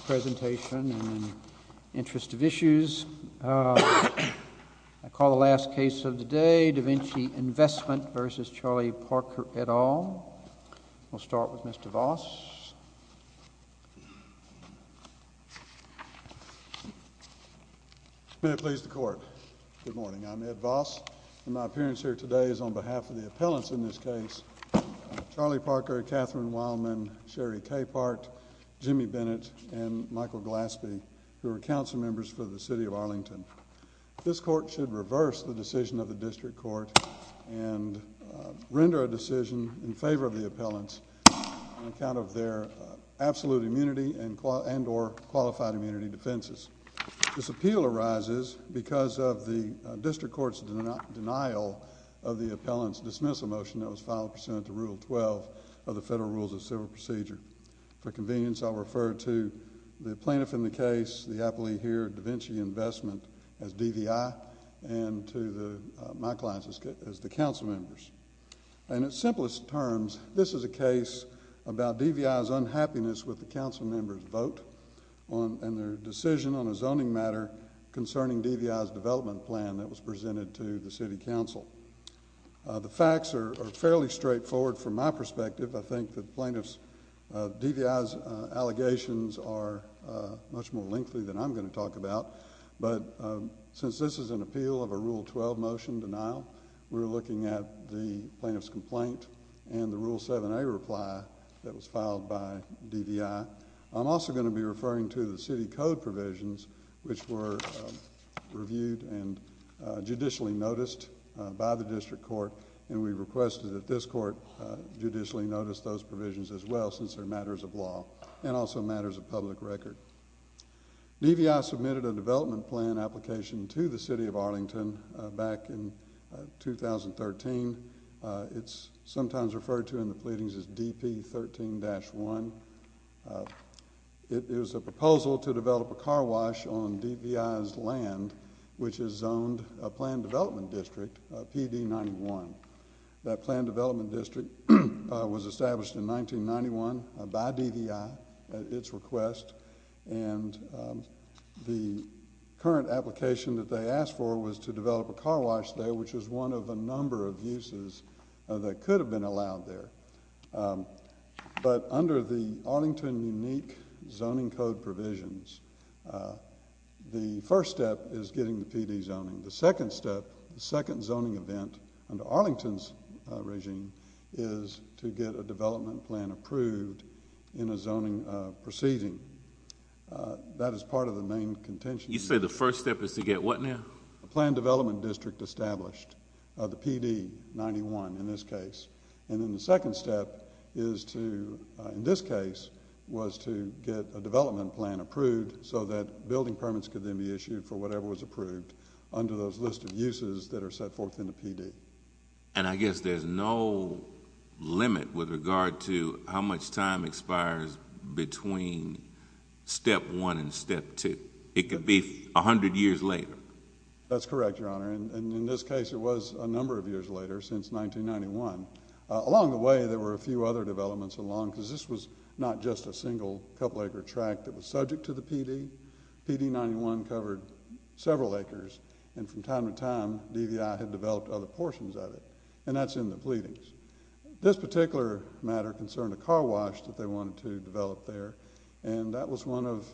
I call the last case of the day, Da Vinci Investment v. Charlie Parker, et al. We'll start with Mr. Voss. May it please the Court. Good morning. I'm Ed Voss, and my appearance here today is on behalf of the appellants in this case, Charlie Parker, Katherine Weilman, Sherry Capehart, Jimmy Bennett, and Michael Glaspie, who are council members for the City of Arlington. This Court should reverse the decision of the District Court and render a decision in favor of the appellants on account of their absolute immunity and or qualified immunity defenses. This appeal arises because of the District Court's denial of the appellant's dismissal motion that was filed pursuant to Rule 12 of the Federal Rules of Civil Procedure. For convenience, I'll refer to the plaintiff in the case, the appellee here, Da Vinci Investment, as DVI, and to my clients as the council members. In its simplest terms, this is a case about DVI's unhappiness with the council members' vote and their decision on a zoning matter concerning DVI's development plan that was presented to the City Council. The facts are fairly straightforward from my perspective. I think that DVI's allegations are much more lengthy than I'm going to talk about. But since this is an appeal of a Rule 12 motion denial, we're looking at the plaintiff's complaint and the Rule 7a reply that was filed by DVI. I'm also going to be referring to the City Code provisions, which were reviewed and judicially noticed by the District Court, and we requested that this Court judicially notice those provisions as well since they're matters of law and also matters of public record. DVI submitted a development plan application to the City of Arlington back in 2013. It's sometimes referred to in the pleadings as DP13-1. It is a proposal to develop a car wash on DVI's land, which is zoned a planned development district, PD91. That planned development district was established in 1991 by DVI at its request, and the current application that they asked for was to develop a car wash there, which was one of a number of uses that could have been allowed there. But under the Arlington Unique Zoning Code provisions, the first step is getting the PD zoning. The second step, the second zoning event under Arlington's regime is to get a development plan approved in a zoning proceeding. That is part of the main contention. You say the first step is to get what now? A planned development district established, the PD91 in this case, and then the second step is to, in this case, was to get a development plan approved so that building permits could then be issued for whatever was approved under those listed uses that are set forth in the PD. And I guess there's no limit with regard to how much time expires between step one and step two. It could be a hundred years later. That's correct, Your Honor, and in this case, it was a number of years later, since 1991. Along the way, there were a few other developments along, because this was not just a single couple-acre tract that was subject to the PD. PD91 covered several acres, and from time to time, DVI had developed other portions of it, and that's in the pleadings. This particular matter concerned a car wash that they wanted to develop there, and that was one of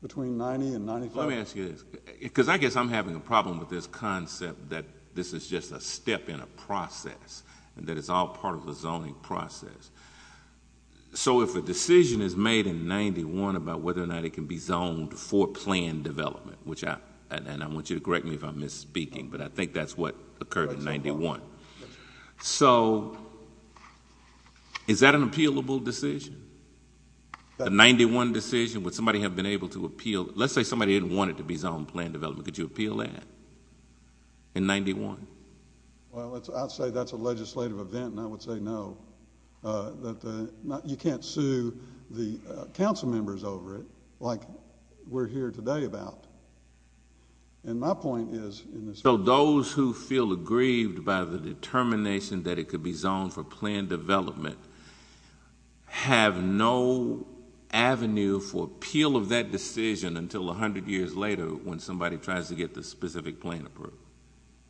between 90 and 95. Well, let me ask you this, because I guess I'm having a problem with this concept that this is just a step in a process, and that it's all part of the zoning process. So if a decision is made in 91 about whether or not it can be zoned for planned development, and I want you to correct me if I'm misspeaking, but I think that's what occurred in 91. So is that an appealable decision? The 91 decision, would somebody have been able to appeal it? Let's say somebody didn't want it to be zoned planned development. Could you appeal that in 91? Well, I'd say that's a legislative event, and I would say no. You can't sue the council members over it like we're here today about. So those who feel aggrieved by the determination that it could be zoned for planned development have no avenue for appeal of that decision until 100 years later when somebody tries to get the specific plan approved?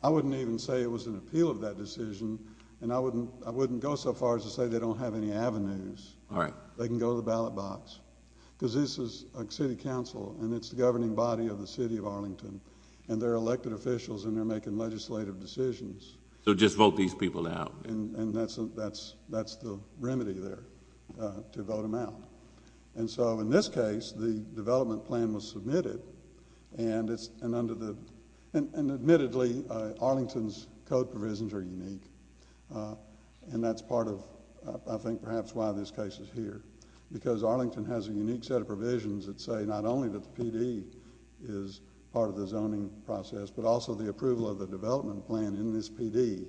I wouldn't even say it was an appeal of that decision, and I wouldn't go so far as to say they don't have any avenues. All right. They can go to the ballot box, because this is a city council, and it's the governing body of the city of Arlington, and they're elected officials, and they're making legislative decisions. So just vote these people out. And that's the remedy there, to vote them out. And so in this case, the development plan was submitted, and admittedly, Arlington's code provisions are unique, and that's part of, I think, perhaps why this case is here, because Arlington has a unique set of provisions that say not only that the PD is part of the zoning process, but also the approval of the development plan in this PD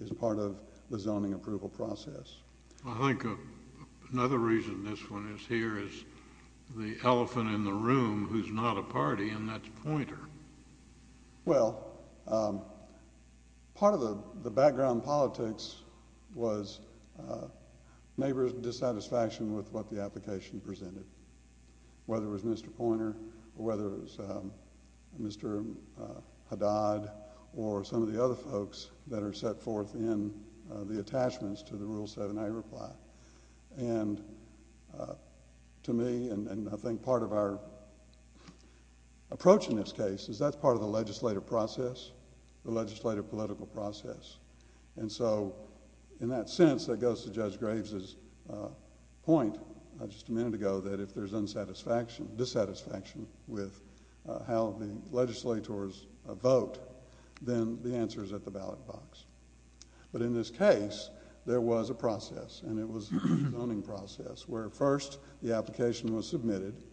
is part of the zoning approval process. I think another reason this one is here is the elephant in the room who's not a party, and that's Poynter. Well, part of the background politics was neighbor's dissatisfaction with what the application presented, whether it was Mr. Poynter or whether it was Mr. Haddad or some of the other folks that are set forth in the attachments to the Rule 7A reply. And to me, and I think part of our approach in this case is that's part of the legislative process, the legislative political process. And so in that sense, that goes to Judge Graves' point just a minute ago that if there's dissatisfaction with how the legislators vote, then the answer is at the ballot box. But in this case, there was a process, and it was a zoning process, where first the application was submitted,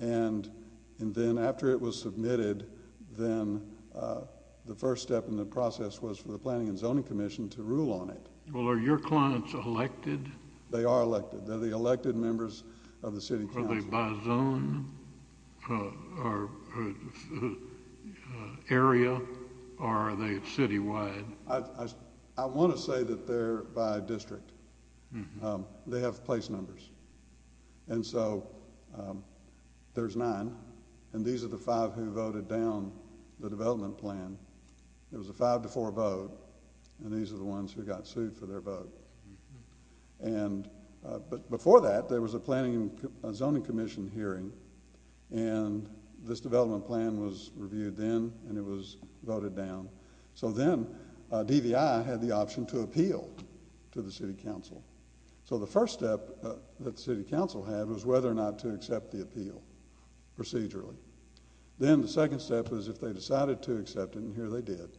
and then after it was submitted, then the first step in the process was for the Planning and Zoning Commission to rule on it. Well, are your clients elected? They are elected. They're the elected members of the city council. Are they by zone or area, or are they citywide? I want to say that they're by district. They have place numbers. And so there's nine, and these are the five who voted down the development plan. It was a five-to-four vote, and these are the ones who got sued for their vote. But before that, there was a Planning and Zoning Commission hearing, and this development plan was reviewed then, and it was voted down. So then DVI had the option to appeal to the city council. So the first step that the city council had was whether or not to accept the appeal procedurally. Then the second step was if they decided to accept it, and here they did,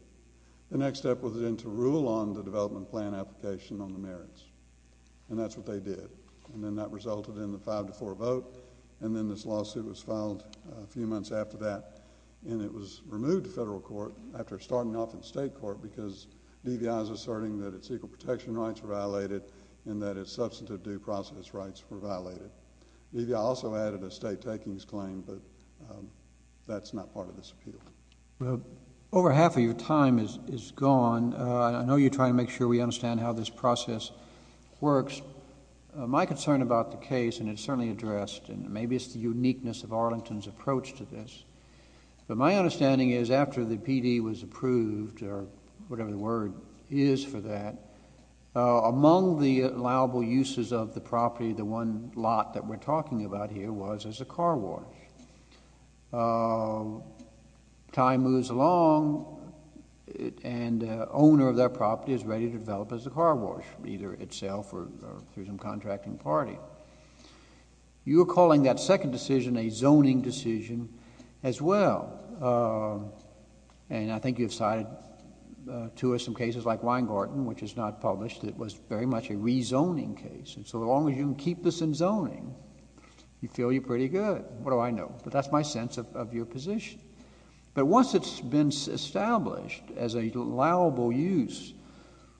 the next step was then to rule on the development plan application on the merits, and that's what they did. And then that resulted in the five-to-four vote, and then this lawsuit was filed a few months after that, and it was removed to federal court after starting off in state court because DVI was asserting that its equal protection rights were violated and that its substantive due process rights were violated. DVI also added a state takings claim, but that's not part of this appeal. Well, over half of your time is gone. I know you're trying to make sure we understand how this process works. My concern about the case, and it's certainly addressed, and maybe it's the uniqueness of Arlington's approach to this, but my understanding is after the PD was approved, or whatever the word is for that, among the allowable uses of the property, the one lot that we're talking about here was as a car wash. Time moves along, and the owner of that property is ready to develop as a car wash, either itself or through some contracting party. You're calling that second decision a zoning decision as well, and I think you've cited two or some cases like Weingarten, which is not published. It was very much a rezoning case, and so as long as you can keep this in zoning, you feel you're pretty good. What do I know? But that's my sense of your position. But once it's been established as a allowable use,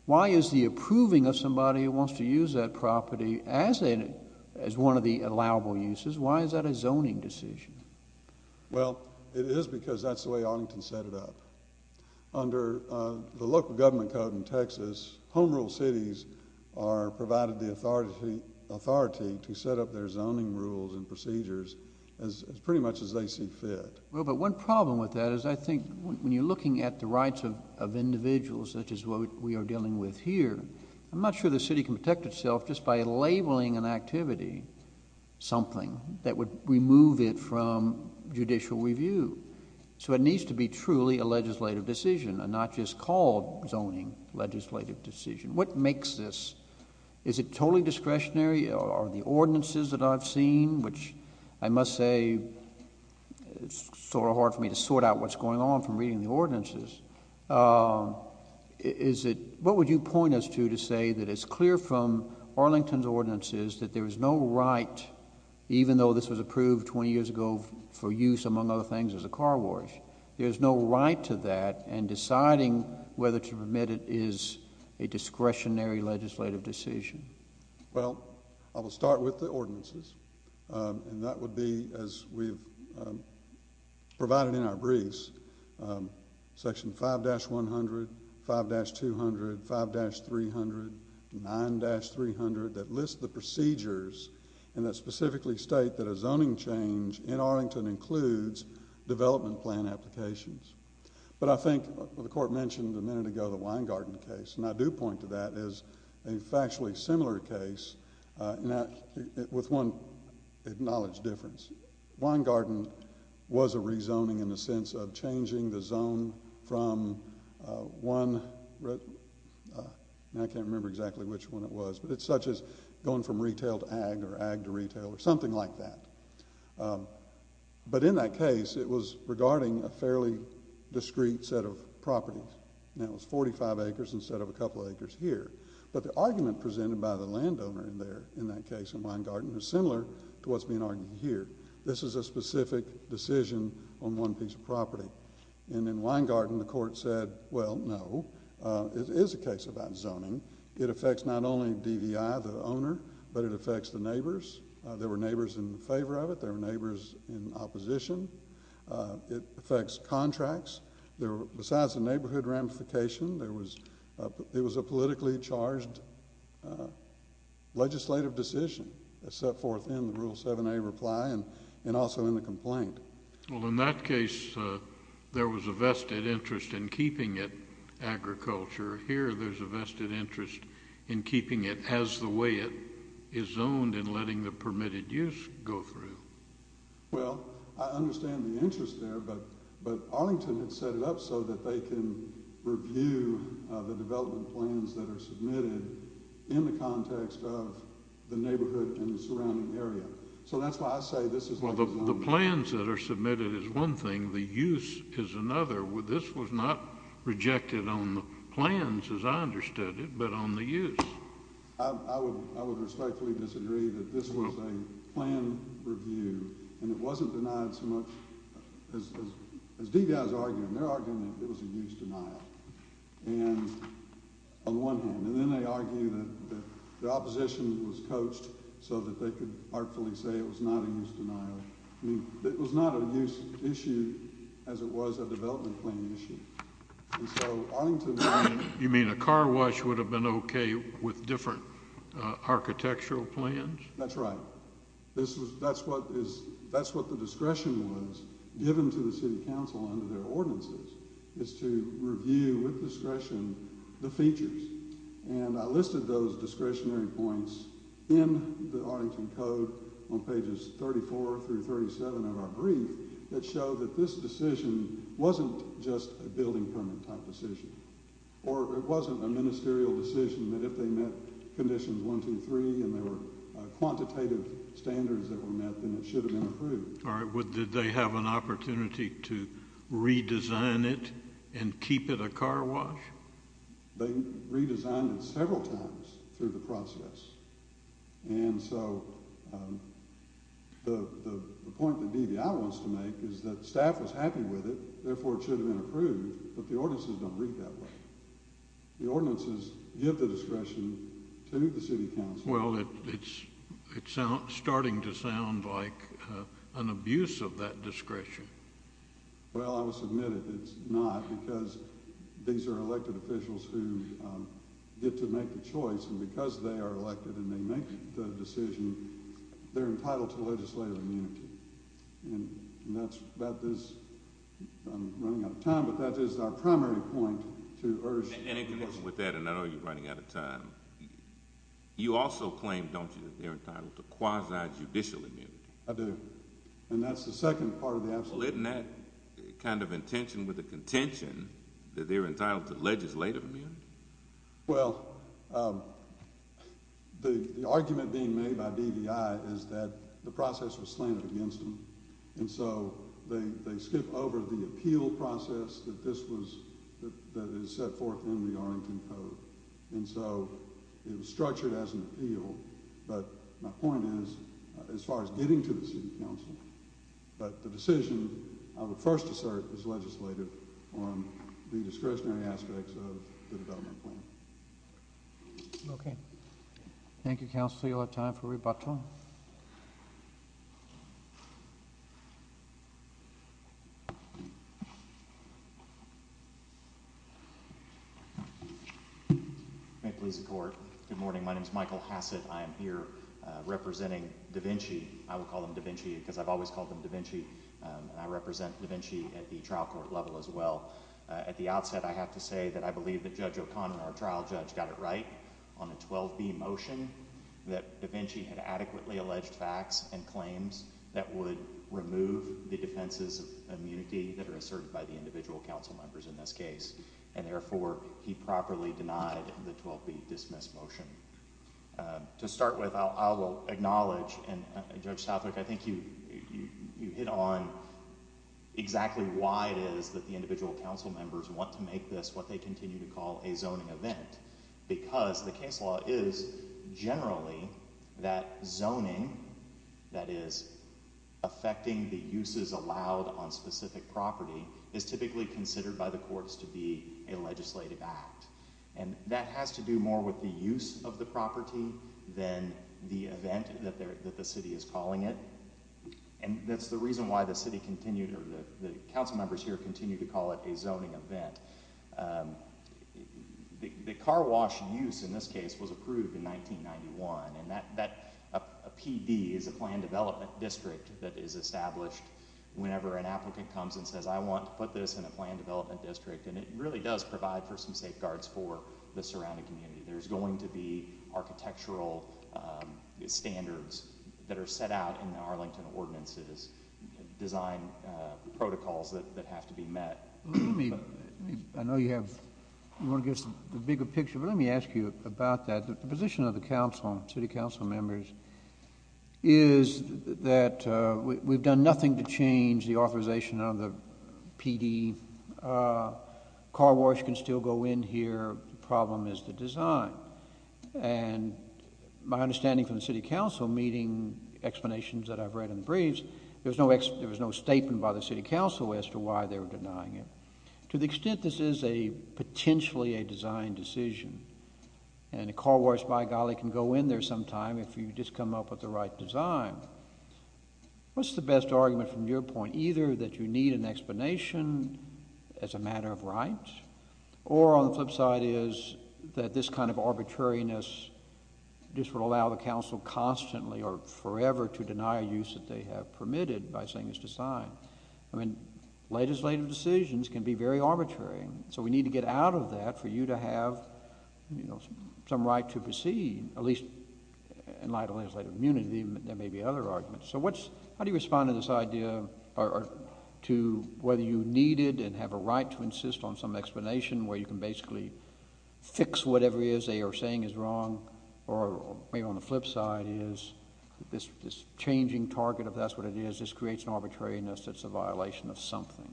why is the approving of somebody who wants to use that property as one of the allowable uses, why is that a zoning decision? Well, it is because that's the way Arlington set it up. Under the local government code in Texas, home rule cities are provided the authority to set up their zoning rules and procedures as pretty much as they see fit. Well, but one problem with that is I think when you're looking at the rights of individuals such as what we are dealing with here, I'm not sure the city can protect itself just by labeling an activity something that would remove it from judicial review. So it needs to be truly a legislative decision and not just called zoning legislative decision. What makes this? Is it totally discretionary? Are the ordinances that I've seen, which I must say it's sort of hard for me to sort out what's going on from reading the ordinances, is it what would you point us to to say that it's clear from Arlington's ordinances that there is no right, even though this was approved 20 years ago for use among other things as a car wash, there's no right to that and deciding whether to permit it is a discretionary legislative decision. Well, I will start with the ordinances, and that would be as we've provided in our briefs, Section 5-100, 5-200, 5-300, 9-300 that list the procedures and that specifically state that a zoning change in Arlington includes development plan applications. But I think the court mentioned a minute ago the Wine Garden case, and I do point to that as a factually similar case with one acknowledged difference. Wine Garden was a rezoning in the sense of changing the zone from one, and I can't remember exactly which one it was, but it's such as going from retail to ag or ag to retail or something like that. But in that case, it was regarding a fairly discreet set of properties, and it was 45 acres instead of a couple acres here. But the argument presented by the landowner in that case in Wine Garden is similar to what's being argued here. This is a specific decision on one piece of property. And in Wine Garden, the court said, well, no, it is a case about zoning. It affects not only DVI, the owner, but it affects the neighbors. There were neighbors in favor of it. There were neighbors in opposition. It affects contracts. Besides the neighborhood ramification, it was a politically charged legislative decision that set forth in the Rule 7a reply and also in the complaint. Well, in that case, there was a vested interest in keeping it agriculture. Here, there's a vested interest in keeping it as the way it is zoned and letting the permitted use go through. Well, I understand the interest there, but Arlington had set it up so that they can review the development plans that are submitted in the context of the neighborhood and the surrounding area. So that's why I say this is not a zoning issue. Well, the plans that are submitted is one thing. The use is another. This was not rejected on the plans, as I understood it, but on the use. I would respectfully disagree that this was a plan review, and it wasn't denied so much. As DVI is arguing, they're arguing that it was a use denial on the one hand, and then they argue that the opposition was coached so that they could artfully say it was not a use denial. I mean, it was not a use issue as it was a development plan issue. You mean a car wash would have been okay with different architectural plans? That's right. That's what the discretion was given to the city council under their ordinances, is to review with discretion the features. And I listed those discretionary points in the Arlington Code on pages 34 through 37 of our brief that show that this decision wasn't just a building permit type decision. Or it wasn't a ministerial decision that if they met conditions 1, 2, 3, and there were quantitative standards that were met, then it should have been approved. All right. Did they have an opportunity to redesign it and keep it a car wash? They redesigned it several times through the process. And so the point that DVI wants to make is that staff was happy with it, therefore it should have been approved, but the ordinances don't read that way. The ordinances give the discretion to the city council. Well, it's starting to sound like an abuse of that discretion. Well, I will submit it's not, because these are elected officials who get to make the choice, and because they are elected and they make the decision, they're entitled to legislative immunity. And that's about this. I'm running out of time, but that is our primary point to urge. And in connection with that, and I know you're running out of time, you also claim, don't you, that they're entitled to quasi-judicial immunity? I do. And that's the second part of the absolute. Well, isn't that kind of intention with the contention that they're entitled to legislative immunity? Well, the argument being made by DVI is that the process was slanted against them, and so they skip over the appeal process that is set forth in the Arlington Code. And so it was structured as an appeal, but my point is, as far as getting to the city council, but the decision of the first assert is legislative on the discretionary aspects of the development plan. Okay. Thank you, Councilor, you'll have time for rebuttal. Good morning. My name is Michael Hassett. I am here representing Da Vinci. I would call him Da Vinci because I've always called him Da Vinci, and I represent Da Vinci at the trial court level as well. At the outset, I have to say that I believe that Judge O'Connor, our trial judge, got it right on the 12B motion that Da Vinci had adequately alleged facts and claims that would remove the defenses of immunity that are asserted by the individual council members in this case. And therefore, he properly denied the 12B dismiss motion. To start with, I will acknowledge, and Judge Southwick, I think you hit on exactly why it is that the individual council members want to make this what they continue to call a zoning event. Because the case law is generally that zoning, that is affecting the uses allowed on specific property, is typically considered by the courts to be a legislative act. And that has to do more with the use of the property than the event that the city is calling it. And that's the reason why the city continued, or the council members here, continued to call it a zoning event. The car wash use in this case was approved in 1991, and that PD is a planned development district that is established whenever an applicant comes and says, I want to put this in a planned development district. And it really does provide for some safeguards for the surrounding community. There's going to be architectural standards that are set out in Arlington ordinances, design protocols that have to be met. I know you want to get a bigger picture, but let me ask you about that. The position of the city council members is that we've done nothing to change the authorization of the PD. Car wash can still go in here. The problem is the design. And my understanding from the city council, meeting explanations that I've read in briefs, there was no statement by the city council as to why they were denying it. To the extent this is a potentially a design decision, and a car wash, by golly, can go in there sometime if you just come up with the right design. What's the best argument from your point? Either that you need an explanation as a matter of right, or on the flip side is that this kind of arbitrariness just would allow the council constantly or forever to deny a use that they have permitted by saying it's a design. I mean, legislative decisions can be very arbitrary. So we need to get out of that for you to have some right to proceed, at least in light of legislative immunity. There may be other arguments. So how do you respond to this idea to whether you need it and have a right to insist on some explanation where you can basically fix whatever it is they are saying is wrong? Or maybe on the flip side is this changing target, if that's what it is, just creates an arbitrariness that's a violation of something.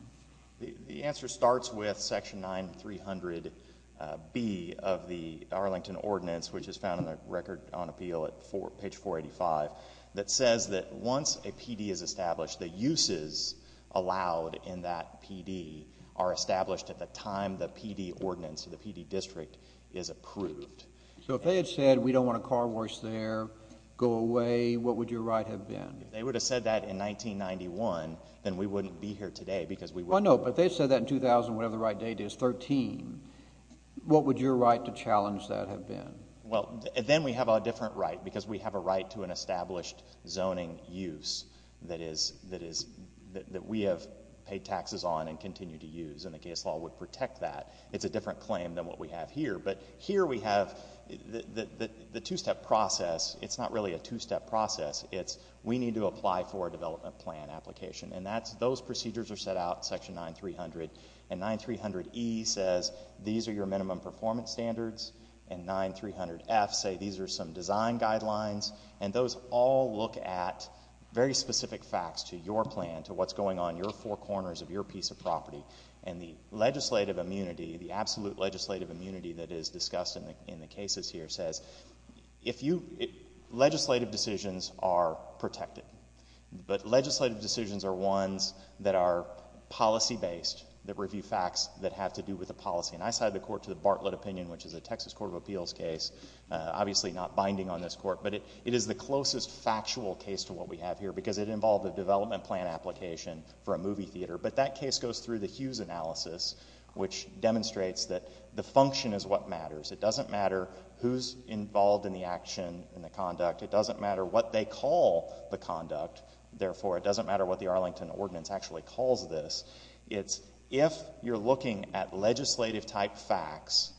The answer starts with Section 9300B of the Arlington Ordinance, which is found in the Record on Appeal at page 485, that says that once a PD is established, the uses allowed in that PD are established at the time the PD ordinance or the PD district is approved. So if they had said we don't want a car wash there, go away, what would your right have been? If they would have said that in 1991, then we wouldn't be here today because we wouldn't. Oh, no, but they said that in 2000, whatever the right date is, 13. What would your right to challenge that have been? Well, then we have a different right because we have a right to an established zoning use that we have paid taxes on and continue to use, and the case law would protect that. It's a different claim than what we have here. But here we have the two-step process. It's not really a two-step process. It's we need to apply for a development plan application, and those procedures are set out in Section 9300. And 9300E says these are your minimum performance standards, and 9300F says these are some design guidelines, and those all look at very specific facts to your plan, to what's going on in your four corners of your piece of property. And the legislative immunity, the absolute legislative immunity that is discussed in the cases here says legislative decisions are protected. But legislative decisions are ones that are policy-based, that review facts that have to do with the policy. And I side of the court to the Bartlett opinion, which is a Texas Court of Appeals case, obviously not binding on this court. But it is the closest factual case to what we have here because it involved a development plan application for a movie theater. But that case goes through the Hughes analysis, which demonstrates that the function is what matters. It doesn't matter who's involved in the action and the conduct. It doesn't matter what they call the conduct. Therefore, it doesn't matter what the Arlington Ordinance actually calls this. It's if you're looking at legislative-type facts,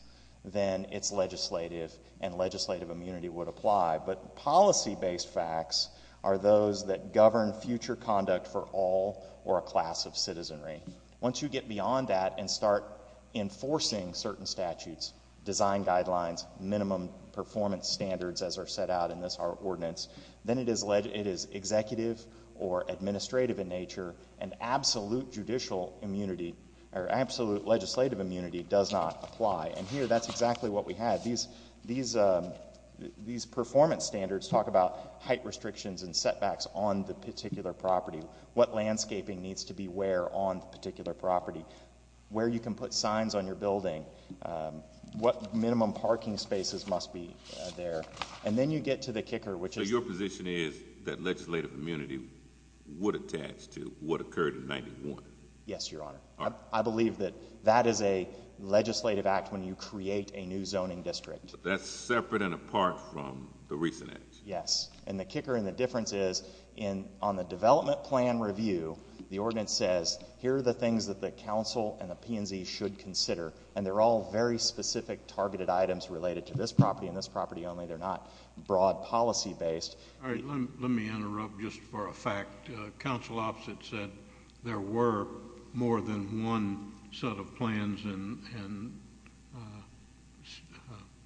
then it's legislative, and legislative immunity would apply. But policy-based facts are those that govern future conduct for all or a class of citizenry. Once you get beyond that and start enforcing certain statutes, design guidelines, minimum performance standards, as are set out in this ordinance, then it is executive or administrative in nature, and absolute judicial immunity or absolute legislative immunity does not apply. And here, that's exactly what we had. These performance standards talk about height restrictions and setbacks on the particular property, what landscaping needs to be where on the particular property, where you can put signs on your building, what minimum parking spaces must be there, and then you get to the kicker, which is— So your position is that legislative immunity would attach to what occurred in 91? Yes, Your Honor. I believe that that is a legislative act when you create a new zoning district. That's separate and apart from the recent acts? Yes, and the kicker and the difference is on the development plan review, the ordinance says, here are the things that the council and the P&Z should consider, and they're all very specific targeted items related to this property and this property only. They're not broad policy-based. All right, let me interrupt just for a fact. Council opposite said there were more than one set of plans and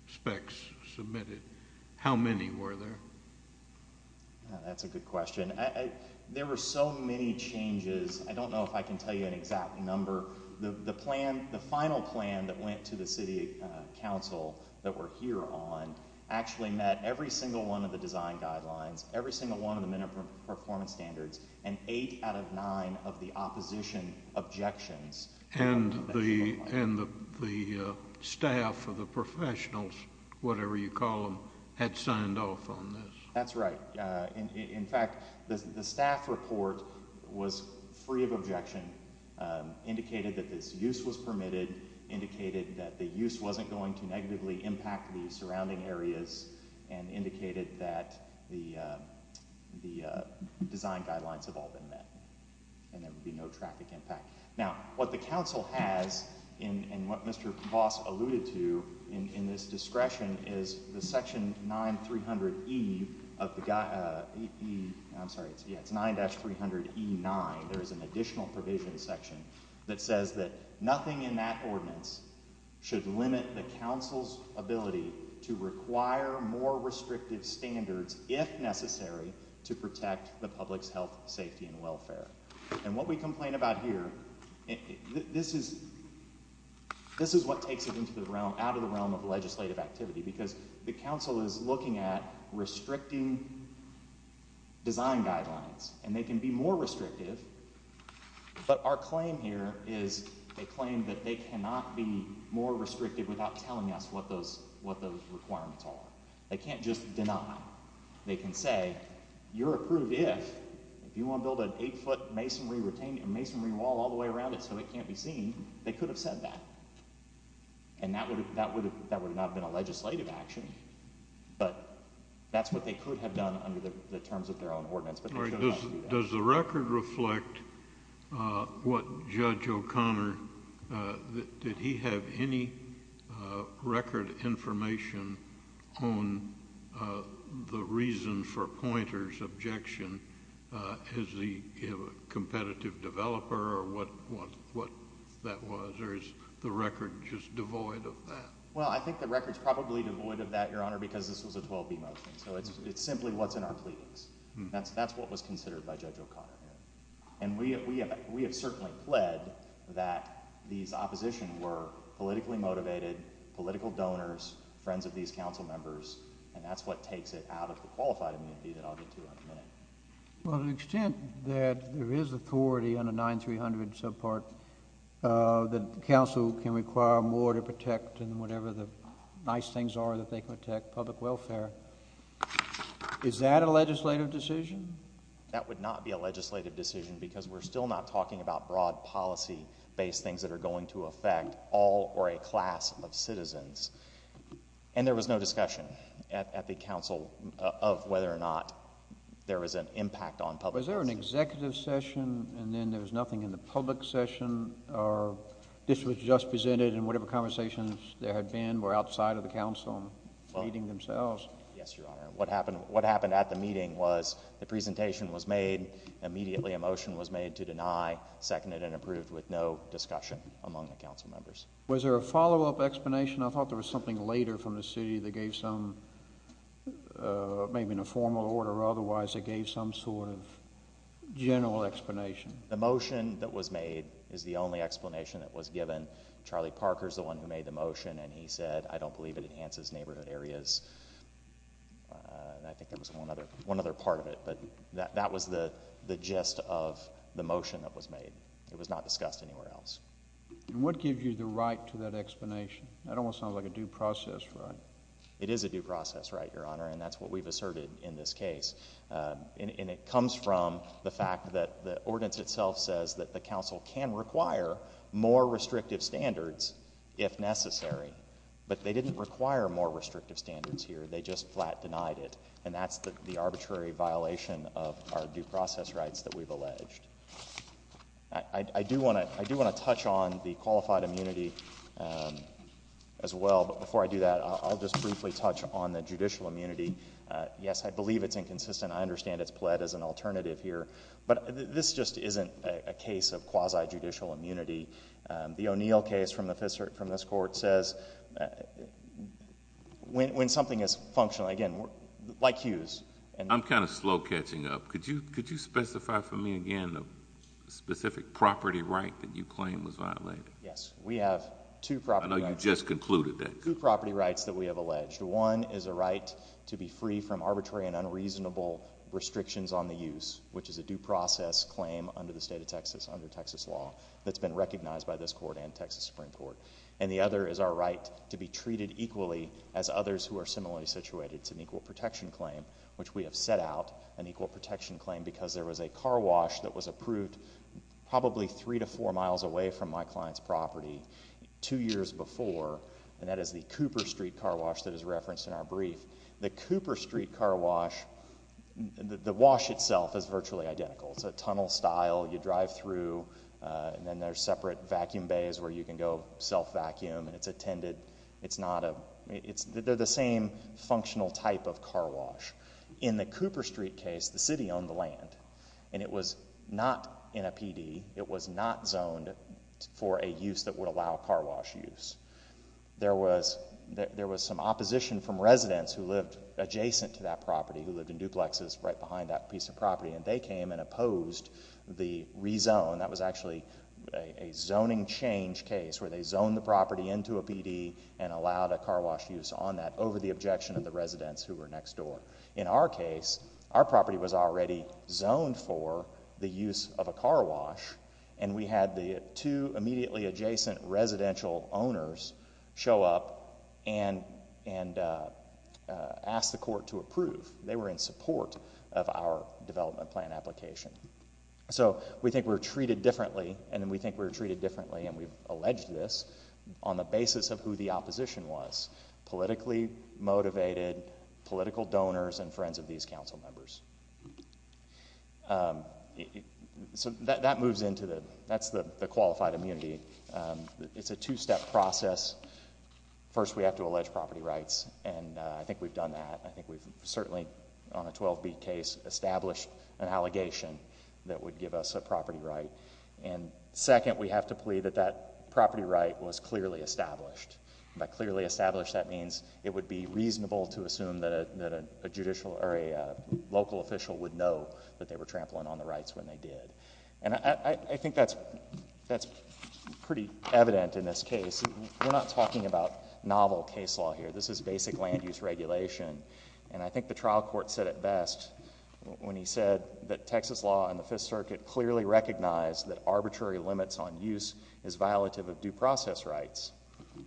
specs submitted. How many were there? That's a good question. There were so many changes. I don't know if I can tell you an exact number. The plan, the final plan that went to the city council that we're here on actually met every single one of the design guidelines, every single one of the minimum performance standards, and eight out of nine of the opposition objections. And the staff or the professionals, whatever you call them, had signed off on this? That's right. In fact, the staff report was free of objection, indicated that this use was permitted, indicated that the use wasn't going to negatively impact the surrounding areas, and indicated that the design guidelines have all been met and there would be no traffic impact. Now, what the council has and what Mr. Voss alluded to in this discretion is the section 9300E of the guide ‑‑ I'm sorry, it's 9-300E9. There is an additional provision section that says that nothing in that ordinance should limit the council's ability to require more restrictive standards if necessary to protect the public's health, safety, and welfare. And what we complain about here, this is what takes it out of the realm of legislative activity because the council is looking at restricting design guidelines, and they can be more restrictive, but our claim here is a claim that they cannot be more restrictive without telling us what those requirements are. They can't just deny. They can say, you're approved if you want to build an eight‑foot masonry wall all the way around it so it can't be seen. They could have said that, and that would not have been a legislative action, but that's what they could have done under the terms of their own ordinance, but they chose not to do that. Does the record reflect what Judge O'Connor ‑‑ did he have any record information on the reason for Poynter's objection? Is he a competitive developer or what that was? Or is the record just devoid of that? Well, I think the record's probably devoid of that, Your Honor, because this was a 12B motion, so it's simply what's in our pleadings. That's what was considered by Judge O'Connor. And we have certainly pled that these opposition were politically motivated, political donors, friends of these council members, and that's what takes it out of the qualified amnesty that I'll get to in a minute. Well, to the extent that there is authority under 9300 and so forth, that the council can require more to protect, and whatever the nice things are that they protect, public welfare, is that a legislative decision? That would not be a legislative decision, because we're still not talking about broad policy-based things that are going to affect all or a class of citizens. And there was no discussion at the council of whether or not there was an impact on public ‑‑ Was there an executive session, and then there was nothing in the public session, or this was just presented and whatever conversations there had been were outside of the council meeting themselves? Yes, Your Honor. What happened at the meeting was the presentation was made, immediately a motion was made to deny, second it, and approved with no discussion among the council members. Was there a follow-up explanation? I thought there was something later from the city that gave some, maybe in a formal order or otherwise, that gave some sort of general explanation. The motion that was made is the only explanation that was given. Charlie Parker is the one who made the motion, and he said, I don't believe it enhances neighborhood areas. I think there was one other part of it, but that was the gist of the motion that was made. It was not discussed anywhere else. And what gives you the right to that explanation? That almost sounds like a due process right. It is a due process right, Your Honor, and that's what we've asserted in this case. And it comes from the fact that the ordinance itself says that the council can require more restrictive standards if necessary, but they didn't require more restrictive standards here. They just flat denied it, and that's the arbitrary violation of our due process rights that we've alleged. I do want to touch on the qualified immunity as well, but before I do that, I'll just briefly touch on the judicial immunity. Yes, I believe it's inconsistent. I understand it's pled as an alternative here, but this just isn't a case of quasi-judicial immunity. The O'Neill case from this court says when something is functional, again, like Hughes. I'm kind of slow catching up. Could you specify for me again the specific property right that you claim was violated? Yes, we have two property rights. I know you just concluded that. Two property rights that we have alleged. One is a right to be free from arbitrary and unreasonable restrictions on the use, which is a due process claim under the state of Texas, under Texas law, that's been recognized by this court and Texas Supreme Court. And the other is our right to be treated equally as others who are similarly situated. It's an equal protection claim, which we have set out an equal protection claim because there was a car wash that was approved probably 3 to 4 miles away from my client's property two years before, and that is the Cooper Street car wash that is referenced in our brief. The Cooper Street car wash, the wash itself is virtually identical. It's a tunnel style. You drive through, and then there's separate vacuum bays where you can go self-vacuum, and it's attended. They're the same functional type of car wash. In the Cooper Street case, the city owned the land, and it was not in a PD. It was not zoned for a use that would allow car wash use. There was some opposition from residents who lived adjacent to that property, who lived in duplexes right behind that piece of property, and they came and opposed the rezone. That was actually a zoning change case where they zoned the property into a PD and allowed a car wash use on that over the objection of the residents who were next door. In our case, our property was already zoned for the use of a car wash, and we had the two immediately adjacent residential owners show up and ask the court to approve. They were in support of our development plan application. So we think we're treated differently, and we think we're treated differently, and we've alleged this on the basis of who the opposition was, politically motivated, political donors, and friends of these council members. So that moves into the—that's the qualified immunity. It's a two-step process. First, we have to allege property rights, and I think we've done that. I think we've certainly, on a 12-beat case, established an allegation that would give us a property right. And second, we have to plead that that property right was clearly established. By clearly established, that means it would be reasonable to assume that a local official would know that they were trampling on the rights when they did. And I think that's pretty evident in this case. We're not talking about novel case law here. This is basic land use regulation, and I think the trial court said it best when he said that Texas law and the Fifth Circuit clearly recognize that arbitrary limits on use is violative of due process rights,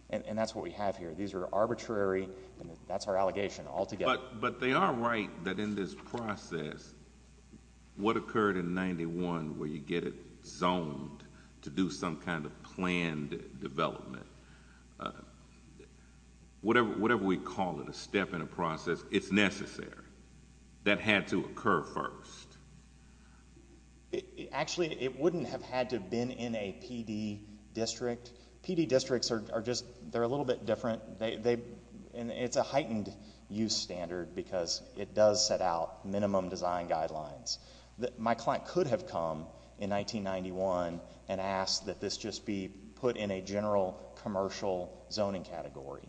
and that's what we have here. These are arbitrary, and that's our allegation altogether. But they are right that in this process, what occurred in 91, where you get it zoned to do some kind of planned development, whatever we call it, a step in a process, it's necessary. That had to occur first. Actually, it wouldn't have had to have been in a PD district. PD districts are just a little bit different. It's a heightened use standard because it does set out minimum design guidelines. My client could have come in 1991 and asked that this just be put in a general commercial zoning category.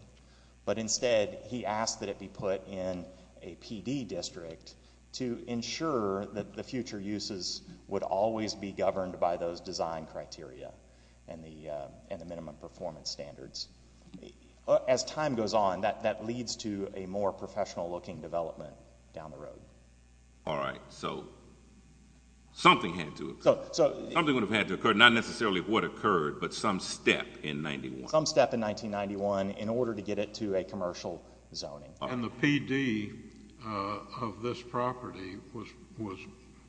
But instead, he asked that it be put in a PD district to ensure that the future uses would always be governed by those design criteria and the minimum performance standards. As time goes on, that leads to a more professional-looking development down the road. All right. So something had to occur. Something would have had to occur, not necessarily what occurred, but some step in 91. in order to get it to a commercial zoning. And the PD of this property was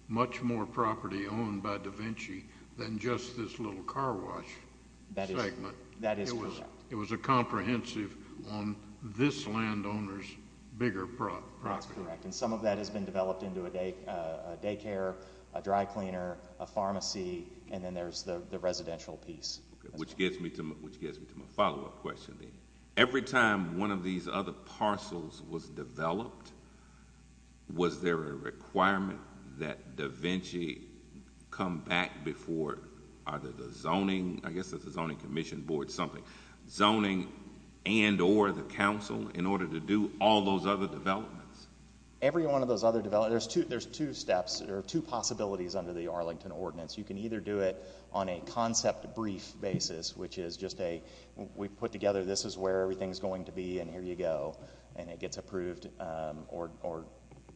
much more property owned by Da Vinci than just this little car wash segment. That is correct. It was a comprehensive on this landowner's bigger property. That's correct. And some of that has been developed into a daycare, a dry cleaner, a pharmacy, and then there's the residential piece. Which gets me to my follow-up question. Every time one of these other parcels was developed, was there a requirement that Da Vinci come back before either the zoning, I guess it's the zoning commission board, something, zoning and or the council in order to do all those other developments? Every one of those other developments. There's two steps or two possibilities under the Arlington Ordinance. You can either do it on a concept brief basis, which is just a, we put together, this is where everything is going to be and here you go. And it gets approved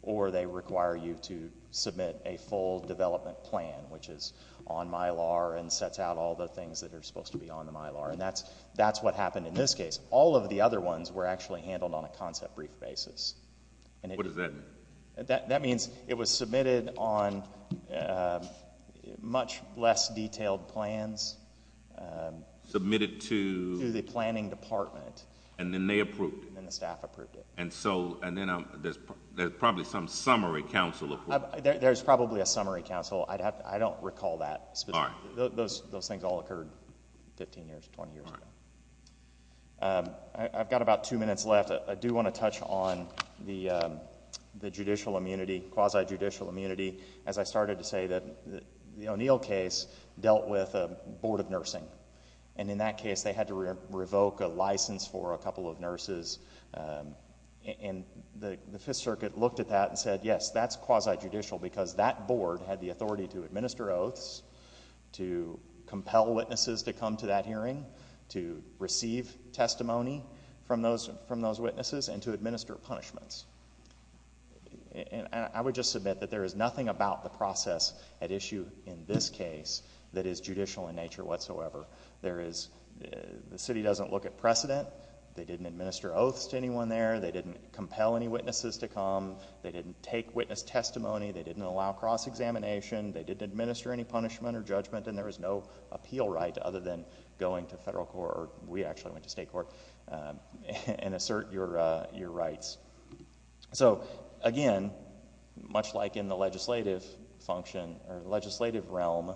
or they require you to submit a full development plan, which is on Mylar and sets out all the things that are supposed to be on the Mylar. And that's what happened in this case. All of the other ones were actually handled on a concept brief basis. What does that mean? That means it was submitted on much less detailed plans. Submitted to? To the planning department. And then they approved it. And the staff approved it. And so, and then there's probably some summary council approval. There's probably a summary council. I don't recall that specifically. Those things all occurred 15 years, 20 years ago. I've got about two minutes left. I do want to touch on the judicial immunity, quasi-judicial immunity. As I started to say, the O'Neill case dealt with a board of nursing. And in that case, they had to revoke a license for a couple of nurses. And the Fifth Circuit looked at that and said, yes, that's quasi-judicial because that board had the authority to administer oaths, to compel witnesses to come to that hearing, to receive testimony from those witnesses, and to administer punishments. And I would just submit that there is nothing about the process at issue in this case that is judicial in nature whatsoever. The city doesn't look at precedent. They didn't administer oaths to anyone there. They didn't compel any witnesses to come. They didn't take witness testimony. They didn't allow cross-examination. They didn't administer any punishment or judgment. And there is no appeal right other than going to federal court or we actually went to state court and assert your rights. So again, much like in the legislative function or legislative realm,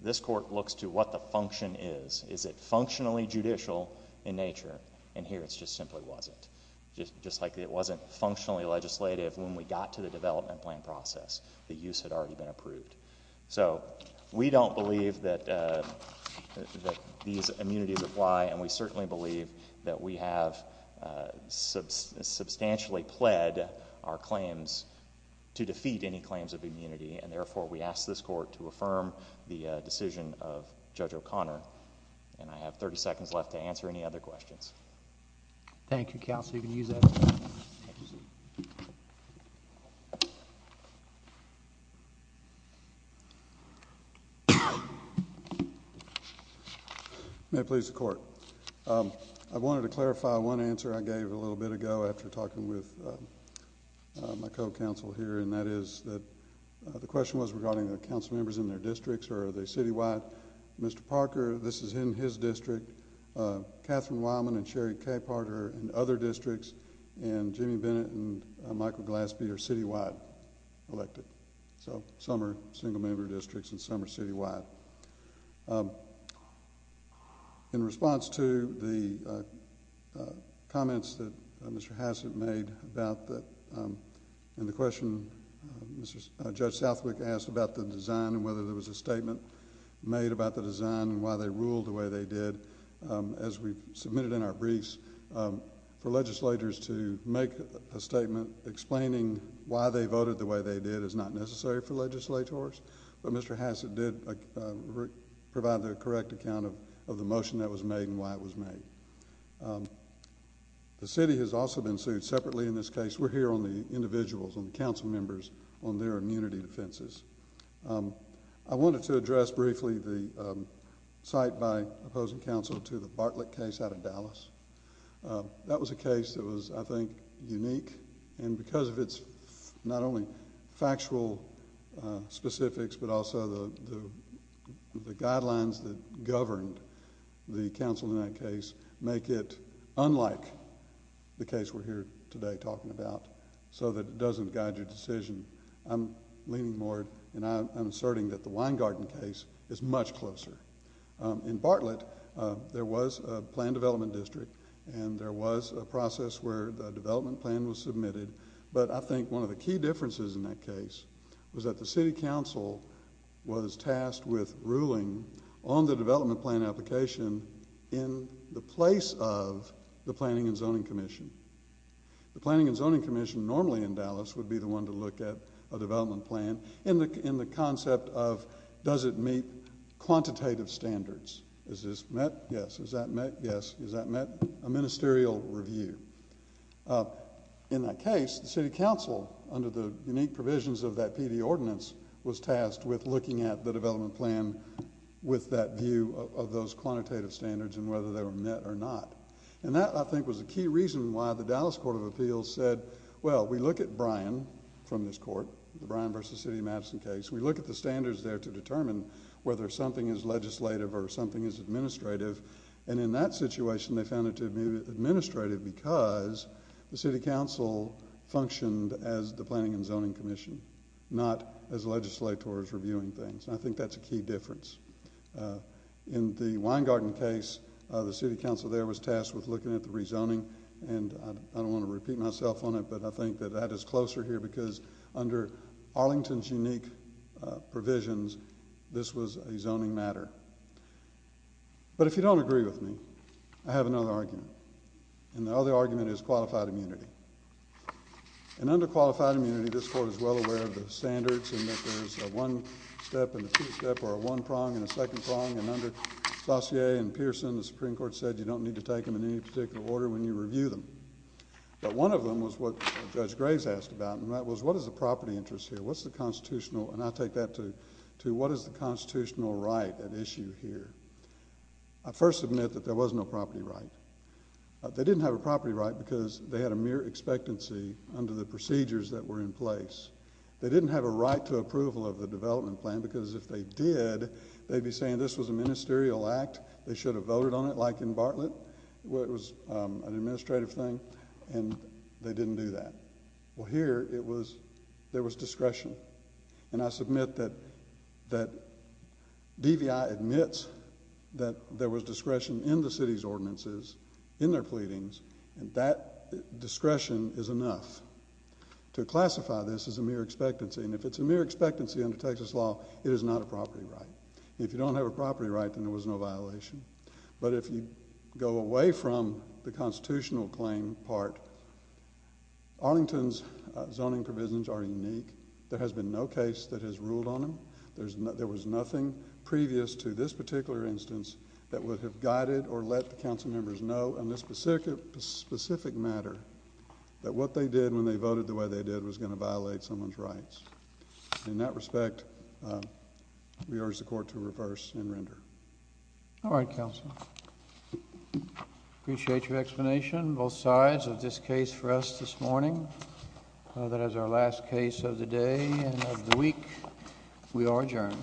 this court looks to what the function is. Is it functionally judicial in nature? And here it just simply wasn't. Just like it wasn't functionally legislative when we got to the development plan process. The use had already been approved. So we don't believe that these immunities apply and we certainly believe that we have substantially pled our claims to defeat any claims of immunity, and therefore we ask this court to affirm the decision of Judge O'Connor. And I have 30 seconds left to answer any other questions. Thank you, counsel. You can use that. May it please the Court. I wanted to clarify one answer I gave a little bit ago after talking with my co-counsel here, and that is that the question was regarding the council members in their districts or are they citywide. Mr. Parker, this is in his district. Catherine Wildman and Sherry Capehart are in other districts, and Jimmy Bennett and Michael Glaspie are citywide elected. So some are single-member districts and some are citywide. In response to the comments that Mr. Hassett made about the question Judge Southwick asked about the design and whether there was a statement made about the design and why they ruled the way they did, as we submitted in our briefs, for legislators to make a statement explaining why they voted the way they did is not necessary for legislators, but Mr. Hassett did provide the correct account of the motion that was made and why it was made. The city has also been sued separately in this case. We're here on the individuals, on the council members, on their immunity defenses. I wanted to address briefly the cite by opposing counsel to the Bartlett case out of Dallas. That was a case that was, I think, unique, and because of its not only factual specifics, but also the guidelines that governed the counsel in that case make it unlike the case we're here today talking about so that it doesn't guide your decision. I'm leaning more and I'm asserting that the Weingarten case is much closer. In Bartlett, there was a plan development district and there was a process where the development plan was submitted, but I think one of the key differences in that case was that the city counsel was tasked with ruling on the development plan application in the place of the Planning and Zoning Commission. The Planning and Zoning Commission normally in Dallas would be the one to look at a development plan in the concept of does it meet quantitative standards. Is this met? Yes. Is that met? Yes. Is that met? A ministerial review. In that case, the city counsel, under the unique provisions of that PD ordinance, was tasked with looking at the development plan with that view of those quantitative standards and whether they were met or not. That, I think, was a key reason why the Dallas Court of Appeals said, well, we look at Bryan from this court, the Bryan v. City of Madison case. We look at the standards there to determine whether something is legislative or something is administrative. In that situation, they found it to be administrative because the city counsel functioned as the Planning and Zoning Commission, not as legislators reviewing things. I think that's a key difference. In the Weingarten case, the city counsel there was tasked with looking at the rezoning. I don't want to repeat myself on it, but I think that that is closer here because under Arlington's unique provisions, this was a zoning matter. But if you don't agree with me, I have another argument. The other argument is qualified immunity. Under qualified immunity, this court is well aware of the standards and that there's a one-step and a two-step or a one-prong and a second-prong. Under Saussure and Pearson, the Supreme Court said you don't need to take them in any particular order when you review them. But one of them was what Judge Graves asked about, and that was what is the property interest here? What's the constitutional? And I take that to what is the constitutional right at issue here? I first admit that there was no property right. They didn't have a property right because they had a mere expectancy under the procedures that were in place. They didn't have a right to approval of the development plan because if they did, they'd be saying this was a ministerial act. They should have voted on it like in Bartlett, where it was an administrative thing, and they didn't do that. Well, here there was discretion, and I submit that DVI admits that there was discretion in the city's ordinances, in their pleadings, and that discretion is enough to classify this as a mere expectancy. And if it's a mere expectancy under Texas law, it is not a property right. If you don't have a property right, then there was no violation. But if you go away from the constitutional claim part, Arlington's zoning provisions are unique. There has been no case that has ruled on them. There was nothing previous to this particular instance that would have guided or let the council members know in this specific matter that what they did when they voted the way they did was going to violate someone's rights. In that respect, we urge the court to reverse and render. All right, counsel. Appreciate your explanation, both sides, of this case for us this morning. That is our last case of the day and of the week. We are adjourned.